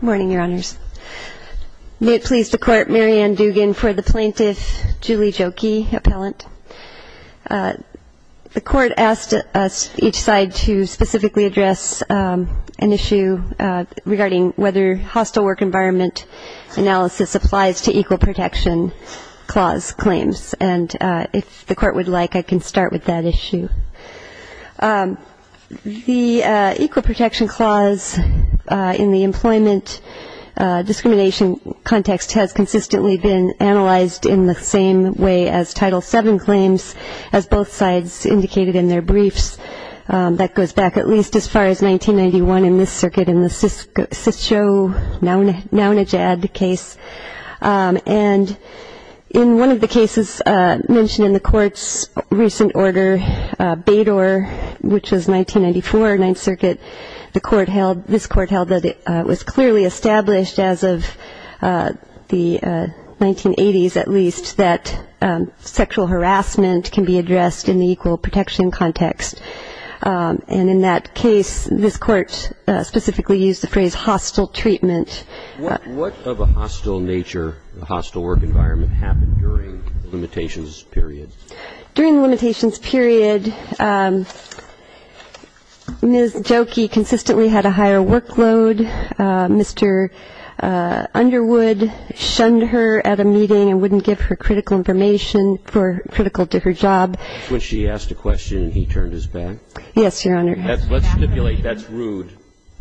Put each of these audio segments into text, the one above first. May it please the Court, Mary Ann Dugan for the Plaintiff, Julie Joki, Appellant. The Court asked each side to specifically address an issue regarding whether hostile work environment analysis applies to Equal Protection Clause claims and if the Court would like I can start with that issue. The Equal Protection Clause in the employment discrimination context has consistently been analyzed in the same way as Title VII claims as both sides indicated in their briefs. That goes back at least as far as 1991 in this circuit in the Syscho-Naunajad case. And in one of the cases mentioned in the Court's recent order, Bador, which was 1994, Ninth Circuit, this Court held that it was clearly established as of the 1980s at least that sexual harassment can be addressed in the Equal Protection context. And in that case, this Court specifically used the phrase hostile treatment. What of a hostile nature, a hostile work environment happened during the limitations period? During the limitations period, Ms. Joki consistently had a higher workload. Mr. Underwood shunned her at a meeting and wouldn't give her critical information for critical to her job. When she asked a question and he turned his back? Yes, Your Honor. Let's stipulate that's rude.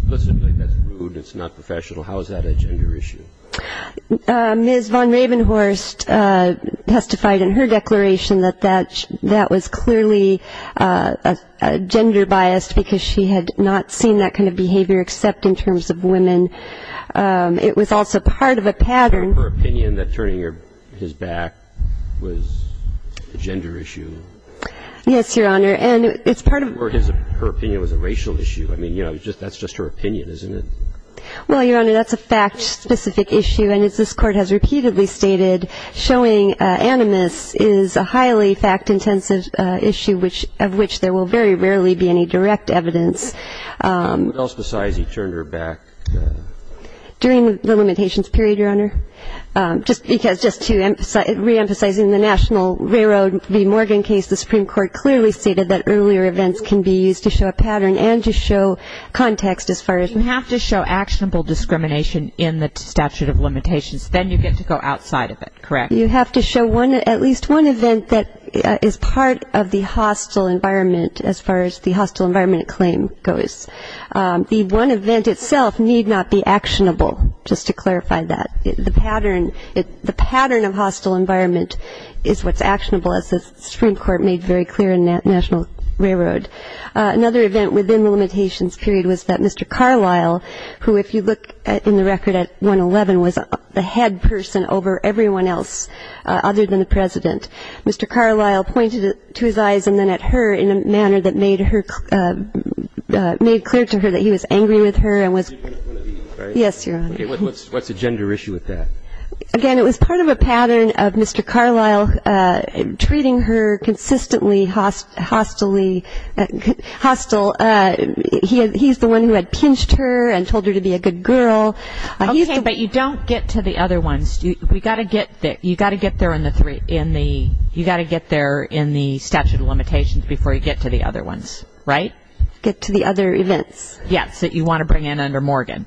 Let's stipulate that's rude and it's not professional. How is that a gender issue? Ms. von Ravenhorst testified in her declaration that that was clearly gender biased because she had not seen that kind of behavior except in terms of women. It was also part of a pattern. Was it her opinion that turning his back was a gender issue? Yes, Your Honor. And it's part of a pattern. And it was a racial issue. I mean, you know, that's just her opinion, isn't it? Well, Your Honor, that's a fact-specific issue. And as this Court has repeatedly stated, showing animus is a highly fact-intensive issue of which there will very rarely be any direct evidence. What else besides he turned her back? During the limitations period, Your Honor. Just to reemphasize in the National Railroad v. Morgan case, the Supreme Court clearly stated that earlier events can be used to show a pattern and to show context as far as you have to show actionable discrimination in the statute of limitations. Then you get to go outside of it, correct? You have to show at least one event that is part of the hostile environment as far as the hostile environment claim goes. The one event itself need not be actionable, just to clarify that. The pattern of hostile environment is what's actionable, as the Supreme Court made very clear in National Railroad. Another event within the limitations period was that Mr. Carlisle, who if you look in the record at 111, was the head person over everyone else other than the President. Mr. Carlisle pointed to his eyes and then at her in a manner that made clear to her that he was angry with her. Yes, Your Honor. What's the gender issue with that? Again, it was part of a pattern of Mr. Carlisle treating her consistently hostile. He's the one who had pinched her and told her to be a good girl. Okay, but you don't get to the other ones. You've got to get there in the statute of limitations before you get to the other ones, right? Get to the other events. Yes, that you want to bring in under Morgan.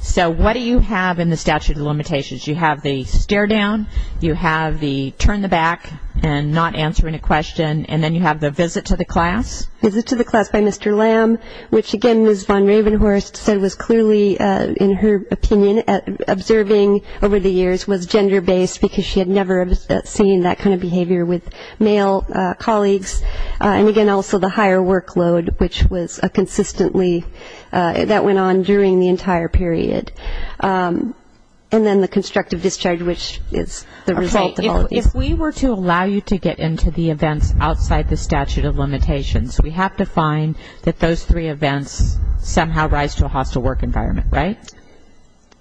So what do you have in the statute of limitations? You have the stare down, you have the turn the back and not answering a question, and then you have the visit to the class. Visit to the class by Mr. Lamb, which again, as Von Ravenhorst said, was clearly in her opinion observing over the years was gender-based because she had never seen that kind of behavior with male colleagues. And again, also the higher workload, which was consistently that went on during the entire period. And then the constructive discharge, which is the result of all of these. If we were to allow you to get into the events outside the statute of limitations, we have to find that those three events somehow rise to a hostile work environment, right?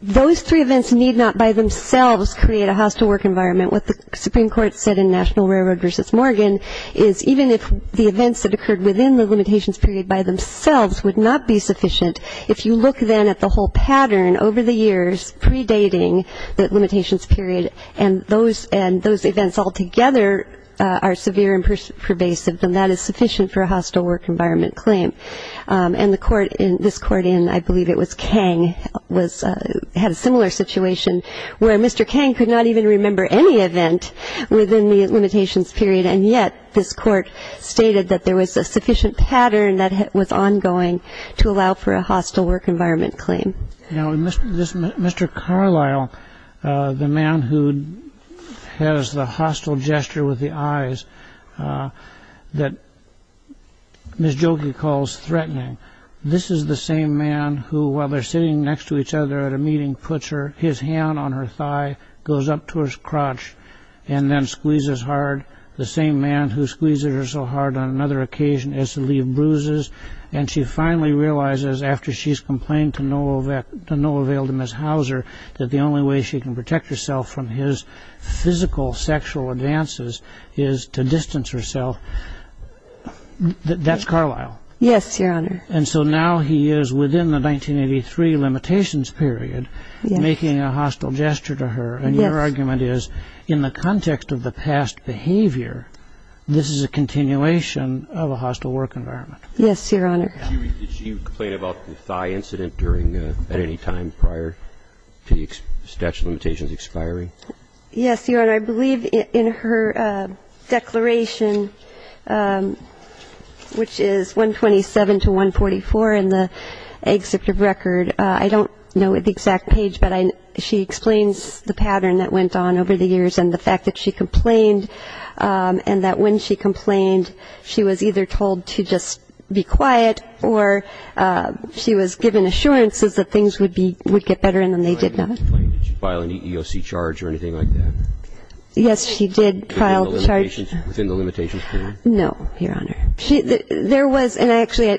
Those three events need not by themselves create a hostile work environment. What the Supreme Court said in National Railroad v. Morgan is even if the events that occurred within the limitations period by themselves would not be sufficient, if you look then at the whole pattern over the years predating the limitations period and those events altogether are severe and pervasive, then that is sufficient for a hostile work environment claim. And this court in, I believe it was Kang, had a similar situation where Mr. Kang could not even remember any event within the limitations period, and yet this court stated that there was a sufficient pattern that was ongoing to allow for a hostile work environment claim. Mr. Carlisle, the man who has the hostile gesture with the eyes that Ms. Jokey calls threatening, this is the same man who, while they're sitting next to each other at a meeting, puts his hand on her thigh, goes up to her crotch, and then squeezes hard. The same man who squeezes her so hard on another occasion is to leave bruises, and she finally realizes after she's complained to Noah Vail to Ms. Hauser that the only way she can protect herself from his physical sexual advances is to distance herself. That's Carlisle. Yes, Your Honor. And so now he is within the 1983 limitations period making a hostile gesture to her, and your argument is in the context of the past behavior, this is a continuation of a hostile work environment. Yes, Your Honor. Did she complain about the thigh incident at any time prior to the statute of limitations expiring? Yes, Your Honor. I believe in her declaration, which is 127 to 144 in the executive record. I don't know the exact page, but she explains the pattern that went on over the years and the fact that she complained and that when she complained she was either told to just be quiet or she was given assurances that things would get better and then they did not. Did she file an EEOC charge or anything like that? Yes, she did file a charge. Within the limitations period? No, Your Honor. There was, and actually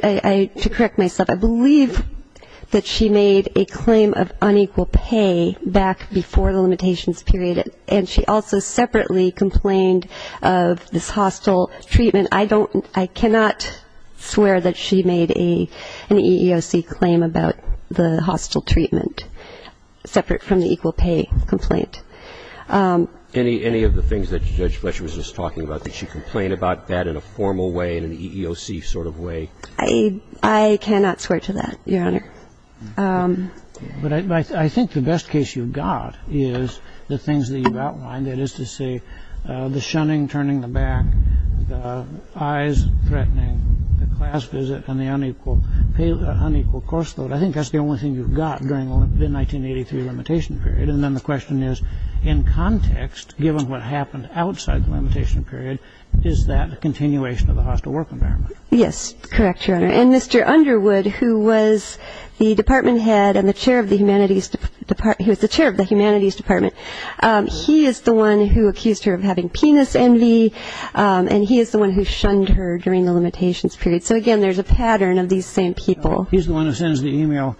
to correct myself, I believe that she made a claim of unequal pay back before the limitations period, and she also separately complained of this hostile treatment. I don't, I cannot swear that she made an EEOC claim about the hostile treatment separate from the equal pay complaint. Any of the things that Judge Fletcher was just talking about, did she complain about that in a formal way, in an EEOC sort of way? I cannot swear to that, Your Honor. But I think the best case you've got is the things that you've outlined, that is to say the shunning, turning the back, the eyes threatening, the class visit, and the unequal course load. I think that's the only thing you've got during the 1983 limitation period. And then the question is, in context, given what happened outside the limitation period, is that a continuation of the hostile work environment? Yes, correct, Your Honor. And Mr. Underwood, who was the department head and the chair of the Humanities Department, he is the one who accused her of having penis envy, and he is the one who shunned her during the limitations period. So, again, there's a pattern of these same people. He's the one who sends the e-mail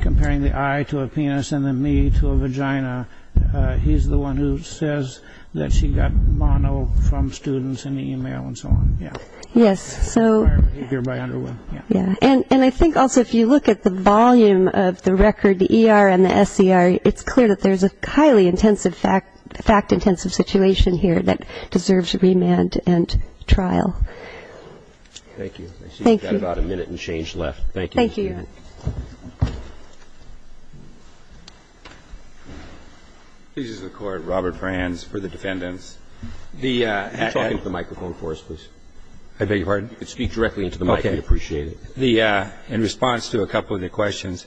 comparing the eye to a penis and the knee to a vagina. He's the one who says that she got mono from students in the e-mail and so on. Yes. And I think also if you look at the volume of the record, the E.R. and the S.E.R., it's clear that there's a highly fact-intensive situation here that deserves remand and trial. Thank you. I see we've got about a minute and change left. Thank you. Thank you, Your Honor. Robert Franz for the defendants. Can you talk into the microphone for us, please? I beg your pardon? You can speak directly into the mic. Okay. We'd appreciate it. In response to a couple of the questions,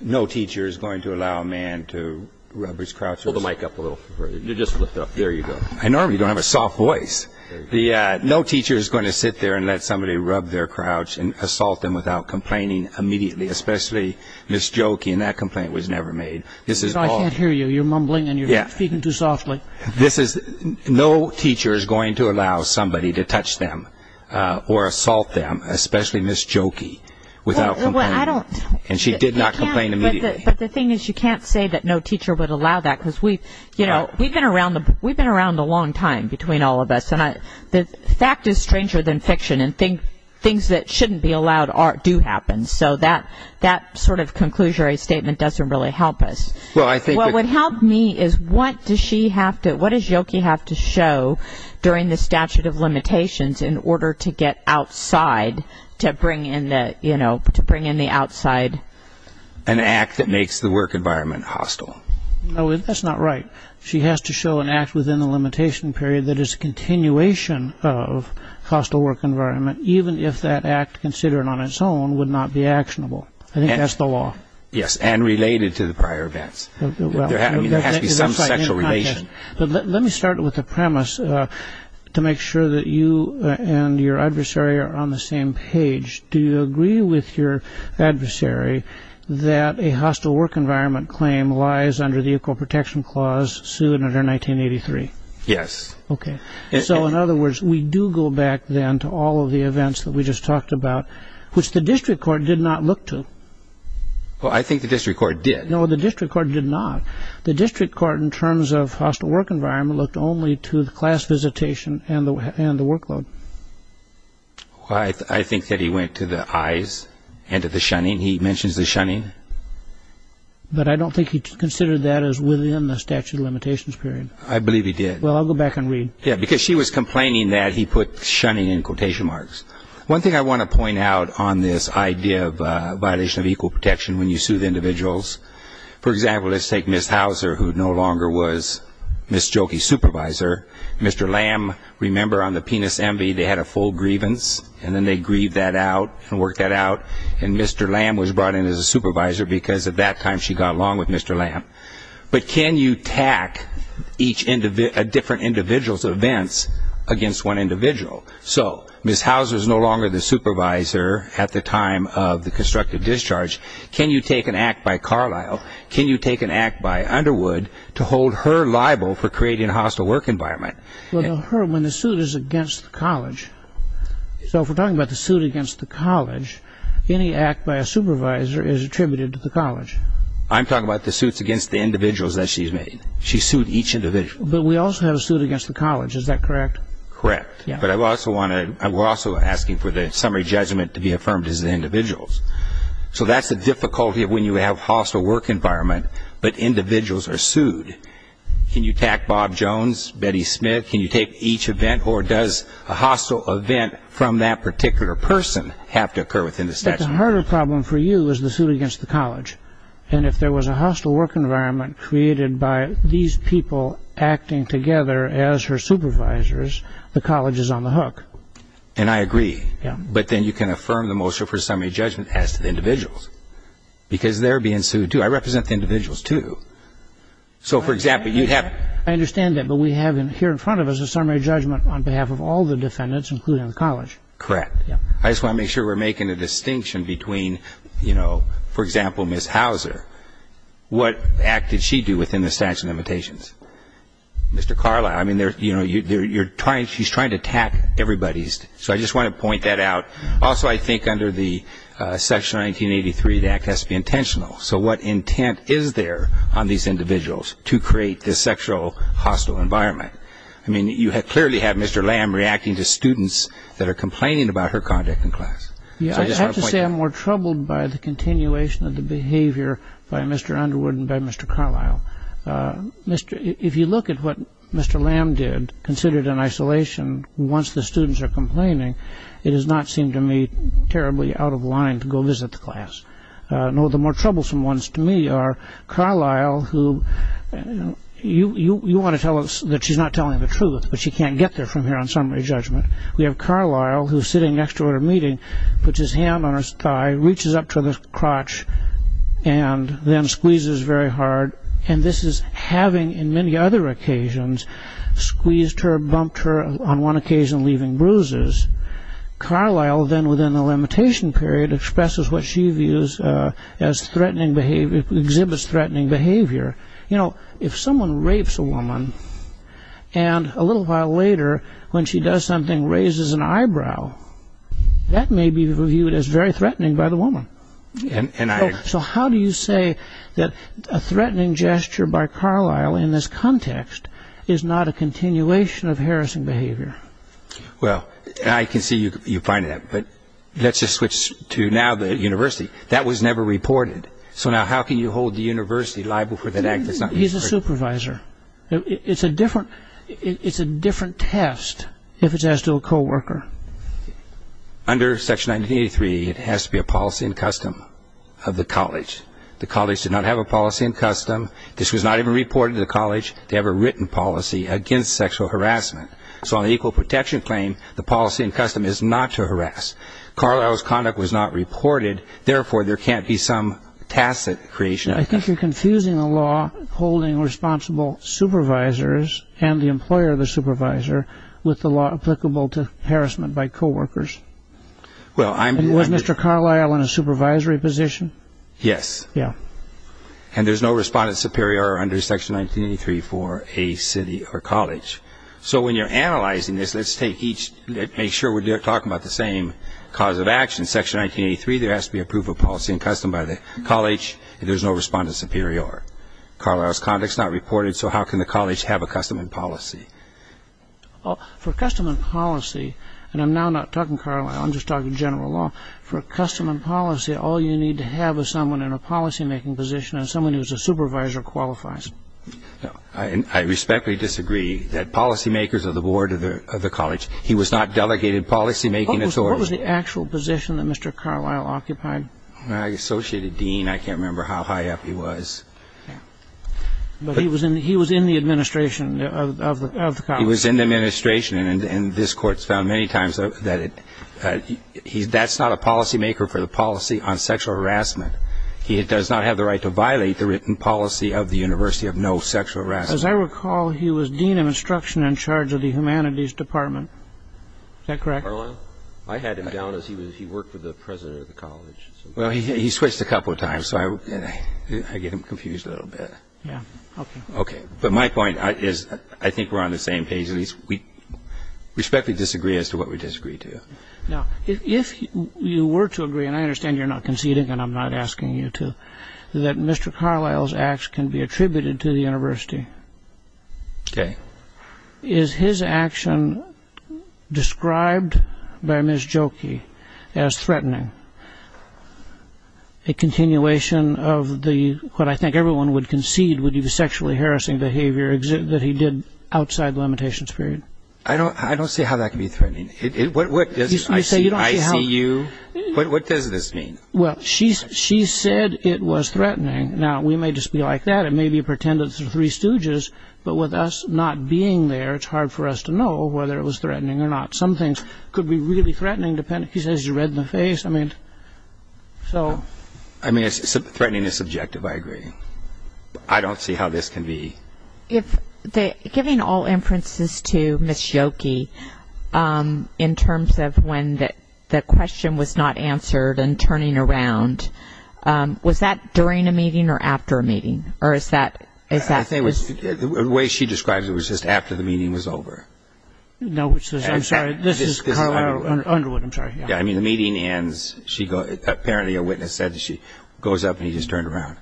no teacher is going to allow a man to rub his crouches. Pull the mic up a little further. Just lift up. There you go. I normally don't have a soft voice. No teacher is going to sit there and let somebody rub their crouch and assault them without complaining immediately, especially Ms. Jokey, and that complaint was never made. This is all... I can't hear you. You're mumbling and you're speaking too softly. This is... No teacher is going to allow somebody to touch them or assault them, especially Ms. Jokey, without complaining. Well, I don't... And she did not complain immediately. But the thing is you can't say that no teacher would allow that because we've, you know, we've been around a long time between all of us, and the fact is stranger than fiction, and things that shouldn't be allowed do happen, so that sort of conclusory statement doesn't really help us. Well, I think... What helped me is what does she have to, what does Jokey have to show during the statute of limitations in order to get outside, to bring in the, you know, to bring in the outside... An act that makes the work environment hostile. No, that's not right. She has to show an act within the limitation period that is a continuation of hostile work environment, even if that act considered on its own would not be actionable. I think that's the law. Yes, and related to the prior events. There has to be some sexual relation. Let me start with the premise to make sure that you and your adversary are on the same page. Do you agree with your adversary that a hostile work environment claim lies under the Equal Protection Clause sued under 1983? Yes. Okay. So, in other words, we do go back then to all of the events that we just talked about, which the district court did not look to. Well, I think the district court did. No, the district court did not. The district court, in terms of hostile work environment, looked only to the class visitation and the workload. I think that he went to the eyes and to the shunning. He mentions the shunning. But I don't think he considered that as within the statute of limitations period. I believe he did. Well, I'll go back and read. Yeah, because she was complaining that he put shunning in quotation marks. One thing I want to point out on this idea of violation of equal protection when you sue the individuals. For example, let's take Ms. Hauser, who no longer was Ms. Jolke's supervisor. Mr. Lamb, remember on the Penis Envy, they had a full grievance, and then they grieved that out and worked that out, and Mr. Lamb was brought in as a supervisor because at that time she got along with Mr. Lamb. But can you tack a different individual's events against one individual? So Ms. Hauser is no longer the supervisor at the time of the constructive discharge. Can you take an act by Carlisle? Can you take an act by Underwood to hold her liable for creating a hostile work environment? Well, when the suit is against the college, so if we're talking about the suit against the college, any act by a supervisor is attributed to the college. I'm talking about the suits against the individuals that she's made. She sued each individual. But we also have a suit against the college. Is that correct? Correct. But we're also asking for the summary judgment to be affirmed as the individuals. So that's the difficulty when you have a hostile work environment, but individuals are sued. Can you tack Bob Jones, Betty Smith? Can you take each event? Or does a hostile event from that particular person have to occur within the statute? But the harder problem for you is the suit against the college. And if there was a hostile work environment created by these people acting together as her supervisors, the college is on the hook. And I agree. Yeah. But then you can affirm the motion for summary judgment as to the individuals, because they're being sued, too. I represent the individuals, too. So, for example, you have... I understand that, but we have here in front of us a summary judgment on behalf of all the defendants, including the college. Correct. Yeah. I just want to make sure we're making a distinction between, you know, for example, Ms. Hauser. What act did she do within the statute of limitations? Mr. Carlisle. I mean, you know, she's trying to tack everybody. So I just want to point that out. Also, I think under the Section 1983, the act has to be intentional. So what intent is there on these individuals to create this sexual hostile environment? I mean, you clearly have Mr. Lamb reacting to students that are complaining about her conduct in class. Yeah, I have to say I'm more troubled by the continuation of the behavior by Mr. Underwood and by Mr. Carlisle. If you look at what Mr. Lamb did, considered in isolation, once the students are complaining, it does not seem to me terribly out of line to go visit the class. No, the more troublesome ones to me are Carlisle, who you want to tell us that she's not telling the truth, but she can't get there from here on summary judgment. We have Carlisle who's sitting next to her meeting, puts his hand on her thigh, reaches up to her crotch, and then squeezes very hard. And this is having in many other occasions squeezed her, bumped her, on one occasion leaving bruises. Carlisle then within a limitation period expresses what she views as threatening behavior, exhibits threatening behavior. You know, if someone rapes a woman and a little while later when she does something raises an eyebrow, that may be viewed as very threatening by the woman. So how do you say that a threatening gesture by Carlisle in this context is not a continuation of harassing behavior? Well, I can see you finding that, but let's just switch to now the university. That was never reported. So now how can you hold the university liable for that act? He's a supervisor. It's a different test if it's as to a co-worker. Under Section 1983, it has to be a policy and custom of the college. The college did not have a policy and custom. This was not even reported to the college to have a written policy against sexual harassment. So on the equal protection claim, the policy and custom is not to harass. Carlisle's conduct was not reported. Therefore, there can't be some tacit creation of that. I think you're confusing the law holding responsible supervisors and the employer the supervisor with the law applicable to harassment by co-workers. Was Mr. Carlisle in a supervisory position? Yes. Yeah. So when you're analyzing this, let's make sure we're talking about the same cause of action. Section 1983, there has to be a proof of policy and custom by the college. There's no respondent superior. Carlisle's conduct is not reported, so how can the college have a custom and policy? For custom and policy, and I'm now not talking Carlisle. I'm just talking general law. For custom and policy, all you need to have is someone in a policymaking position and someone who is a supervisor or qualifies. I respectfully disagree that policymakers are the board of the college. He was not delegated policymaking authority. What was the actual position that Mr. Carlisle occupied? Associate dean. I can't remember how high up he was. But he was in the administration of the college. He was in the administration, and this Court's found many times that that's not a policymaker for the policy on sexual harassment. He does not have the right to violate the written policy of the university of no sexual harassment. As I recall, he was dean of instruction in charge of the humanities department. Is that correct? Carlisle? I had him down as he worked for the president of the college. Well, he switched a couple of times, so I get him confused a little bit. Yeah, okay. Okay, but my point is I think we're on the same page. At least we respectfully disagree as to what we disagree to. Now, if you were to agree, and I understand you're not conceding and I'm not asking you to, that Mr. Carlisle's acts can be attributed to the university. Okay. Is his action described by Ms. Jokey as threatening? A continuation of what I think everyone would concede would be sexually harassing behavior that he did outside limitations period. I don't see how that can be threatening. I see you. What does this mean? Well, she said it was threatening. Now, we may just be like that. It may be pretended through three stooges, but with us not being there, it's hard for us to know whether it was threatening or not. Some things could be really threatening. He says you read the face. I mean, threatening is subjective, I agree. I don't see how this can be. Giving all inferences to Ms. Jokey in terms of when the question was not answered and turning around, was that during a meeting or after a meeting? The way she describes it was just after the meeting was over. No, I'm sorry. This is Carlisle Underwood, I'm sorry. I mean, the meeting ends, apparently a witness said she goes up and he just turned around.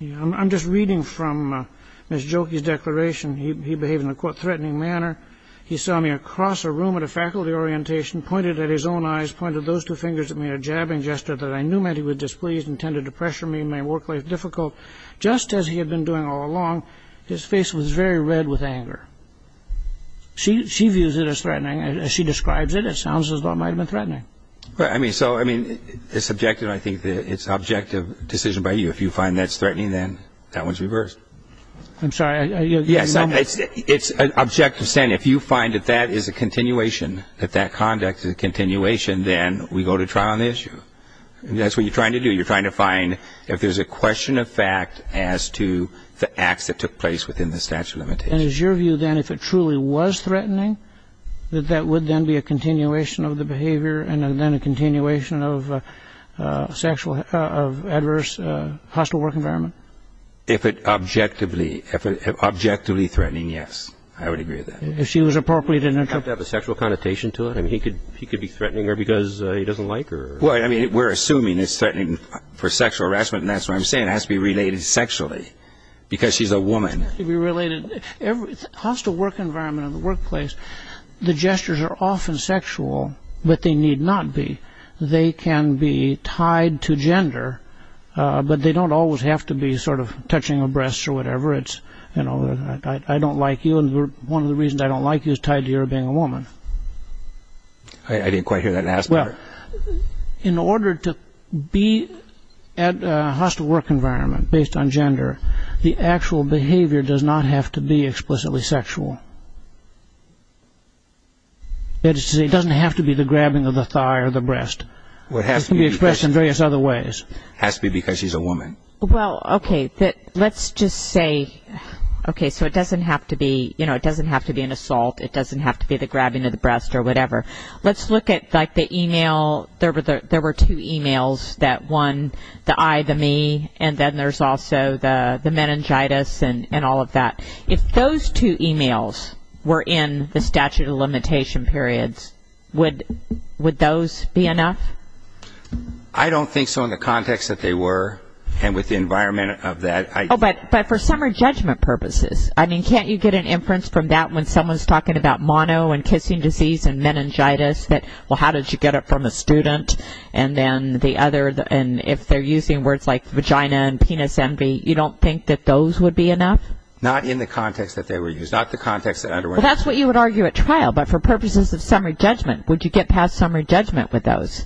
I'm just reading from Ms. Jokey's declaration. He behaved in a threatening manner. He saw me across a room at a faculty orientation, pointed at his own eyes, pointed those two fingers at me in a jabbing gesture that I knew meant he was displeased, intended to pressure me, make my work life difficult. Just as he had been doing all along, his face was very red with anger. She views it as threatening. As she describes it, it sounds as though it might have been threatening. So, I mean, it's subjective. I think it's an objective decision by you. If you find that it's threatening, then that one's reversed. I'm sorry. It's an objective statement. If you find that that is a continuation, that that conduct is a continuation, then we go to trial on the issue. That's what you're trying to do. You're trying to find if there's a question of fact as to the acts that took place within the statute of limitations. And is your view, then, if it truly was threatening, that that would then be a continuation of the behavior and then a continuation of adverse hostile work environment? If it objectively threatening, yes. I would agree with that. If she was appropriate in her treatment. Does that have a sexual connotation to it? I mean, he could be threatening her because he doesn't like her. Well, I mean, we're assuming it's threatening for sexual harassment, It has to be related sexually because she's a woman. It has to be related. Every hostile work environment in the workplace, the gestures are often sexual, but they need not be. They can be tied to gender, but they don't always have to be sort of touching her breasts or whatever. It's, you know, I don't like you, and one of the reasons I don't like you is tied to your being a woman. I didn't quite hear that last part. Well, in order to be at a hostile work environment based on gender, the actual behavior does not have to be explicitly sexual. It doesn't have to be the grabbing of the thigh or the breast. It can be expressed in various other ways. It has to be because she's a woman. Well, okay, let's just say, okay, so it doesn't have to be, you know, it doesn't have to be an assault. It doesn't have to be the grabbing of the breast or whatever. Let's look at, like, the e-mail. There were two e-mails, that one, the I, the me, and then there's also the meningitis and all of that. If those two e-mails were in the statute of limitation periods, would those be enough? I don't think so in the context that they were and with the environment of that. But for summary judgment purposes, I mean, can't you get an inference from that when someone's talking about mono and kissing disease and meningitis, that, well, how did you get it from a student? And if they're using words like vagina and penis envy, you don't think that those would be enough? Not in the context that they were used. Not the context that underwent. Well, that's what you would argue at trial. But for purposes of summary judgment, would you get past summary judgment with those?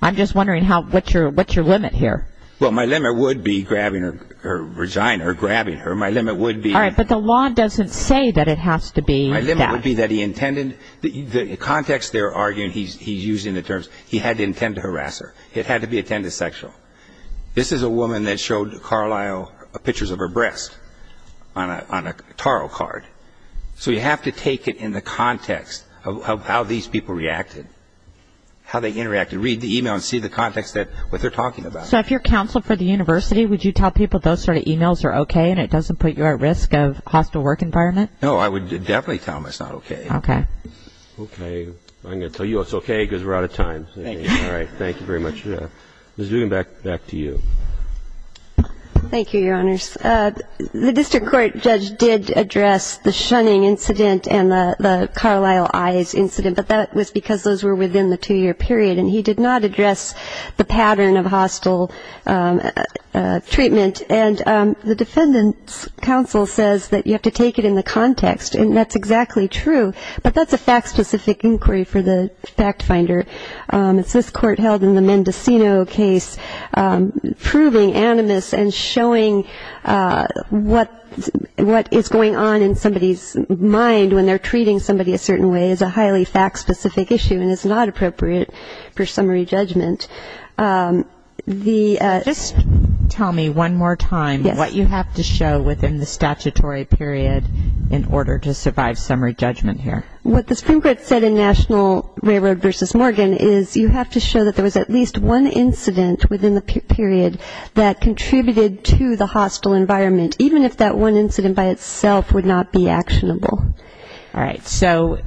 I'm just wondering what's your limit here. Well, my limit would be grabbing her vagina or grabbing her. My limit would be... All right, but the law doesn't say that it has to be that. My limit would be that he intended... The context they're arguing, he's using the terms, he had to intend to harass her. It had to be intended sexual. This is a woman that showed Carlisle pictures of her breast on a tarot card. So you have to take it in the context of how these people reacted, how they interacted. Read the e-mail and see the context of what they're talking about. So if you're counsel for the university, would you tell people those sort of e-mails are okay and it doesn't put you at risk of hostile work environment? No, I would definitely tell them it's not okay. Okay. I'm going to tell you it's okay because we're out of time. Thank you. All right, thank you very much. Ms. Dugan, back to you. Thank you, Your Honors. The district court judge did address the shunning incident and the Carlisle eyes incident, but that was because those were within the two-year period, and he did not address the pattern of hostile treatment. And the defendant's counsel says that you have to take it in the context, and that's exactly true. But that's a fact-specific inquiry for the fact finder. It's this court held in the Mendocino case proving animus and showing what is going on in somebody's mind when they're treating somebody a certain way is a highly fact-specific issue and is not appropriate for summary judgment. Just tell me one more time what you have to show within the statutory period in order to survive summary judgment here. What the Supreme Court said in National Railroad v. Morgan is you have to show that there was at least one incident within the period that contributed to the hostile environment, even if that one incident by itself would not be actionable. All right. So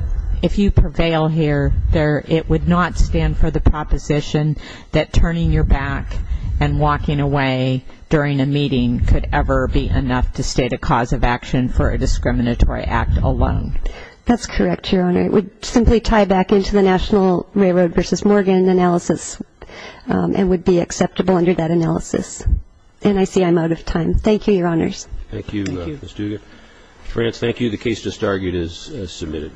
if you prevail here, it would not stand for the proposition that turning your back and walking away during a meeting could ever be enough to state a cause of action for a discriminatory act alone. That's correct, Your Honor. It would simply tie back into the National Railroad v. Morgan analysis and would be acceptable under that analysis. And I see I'm out of time. Thank you, Your Honors. Thank you, Ms. Dugan. Ms. Rance, thank you. The case just argued is submitted.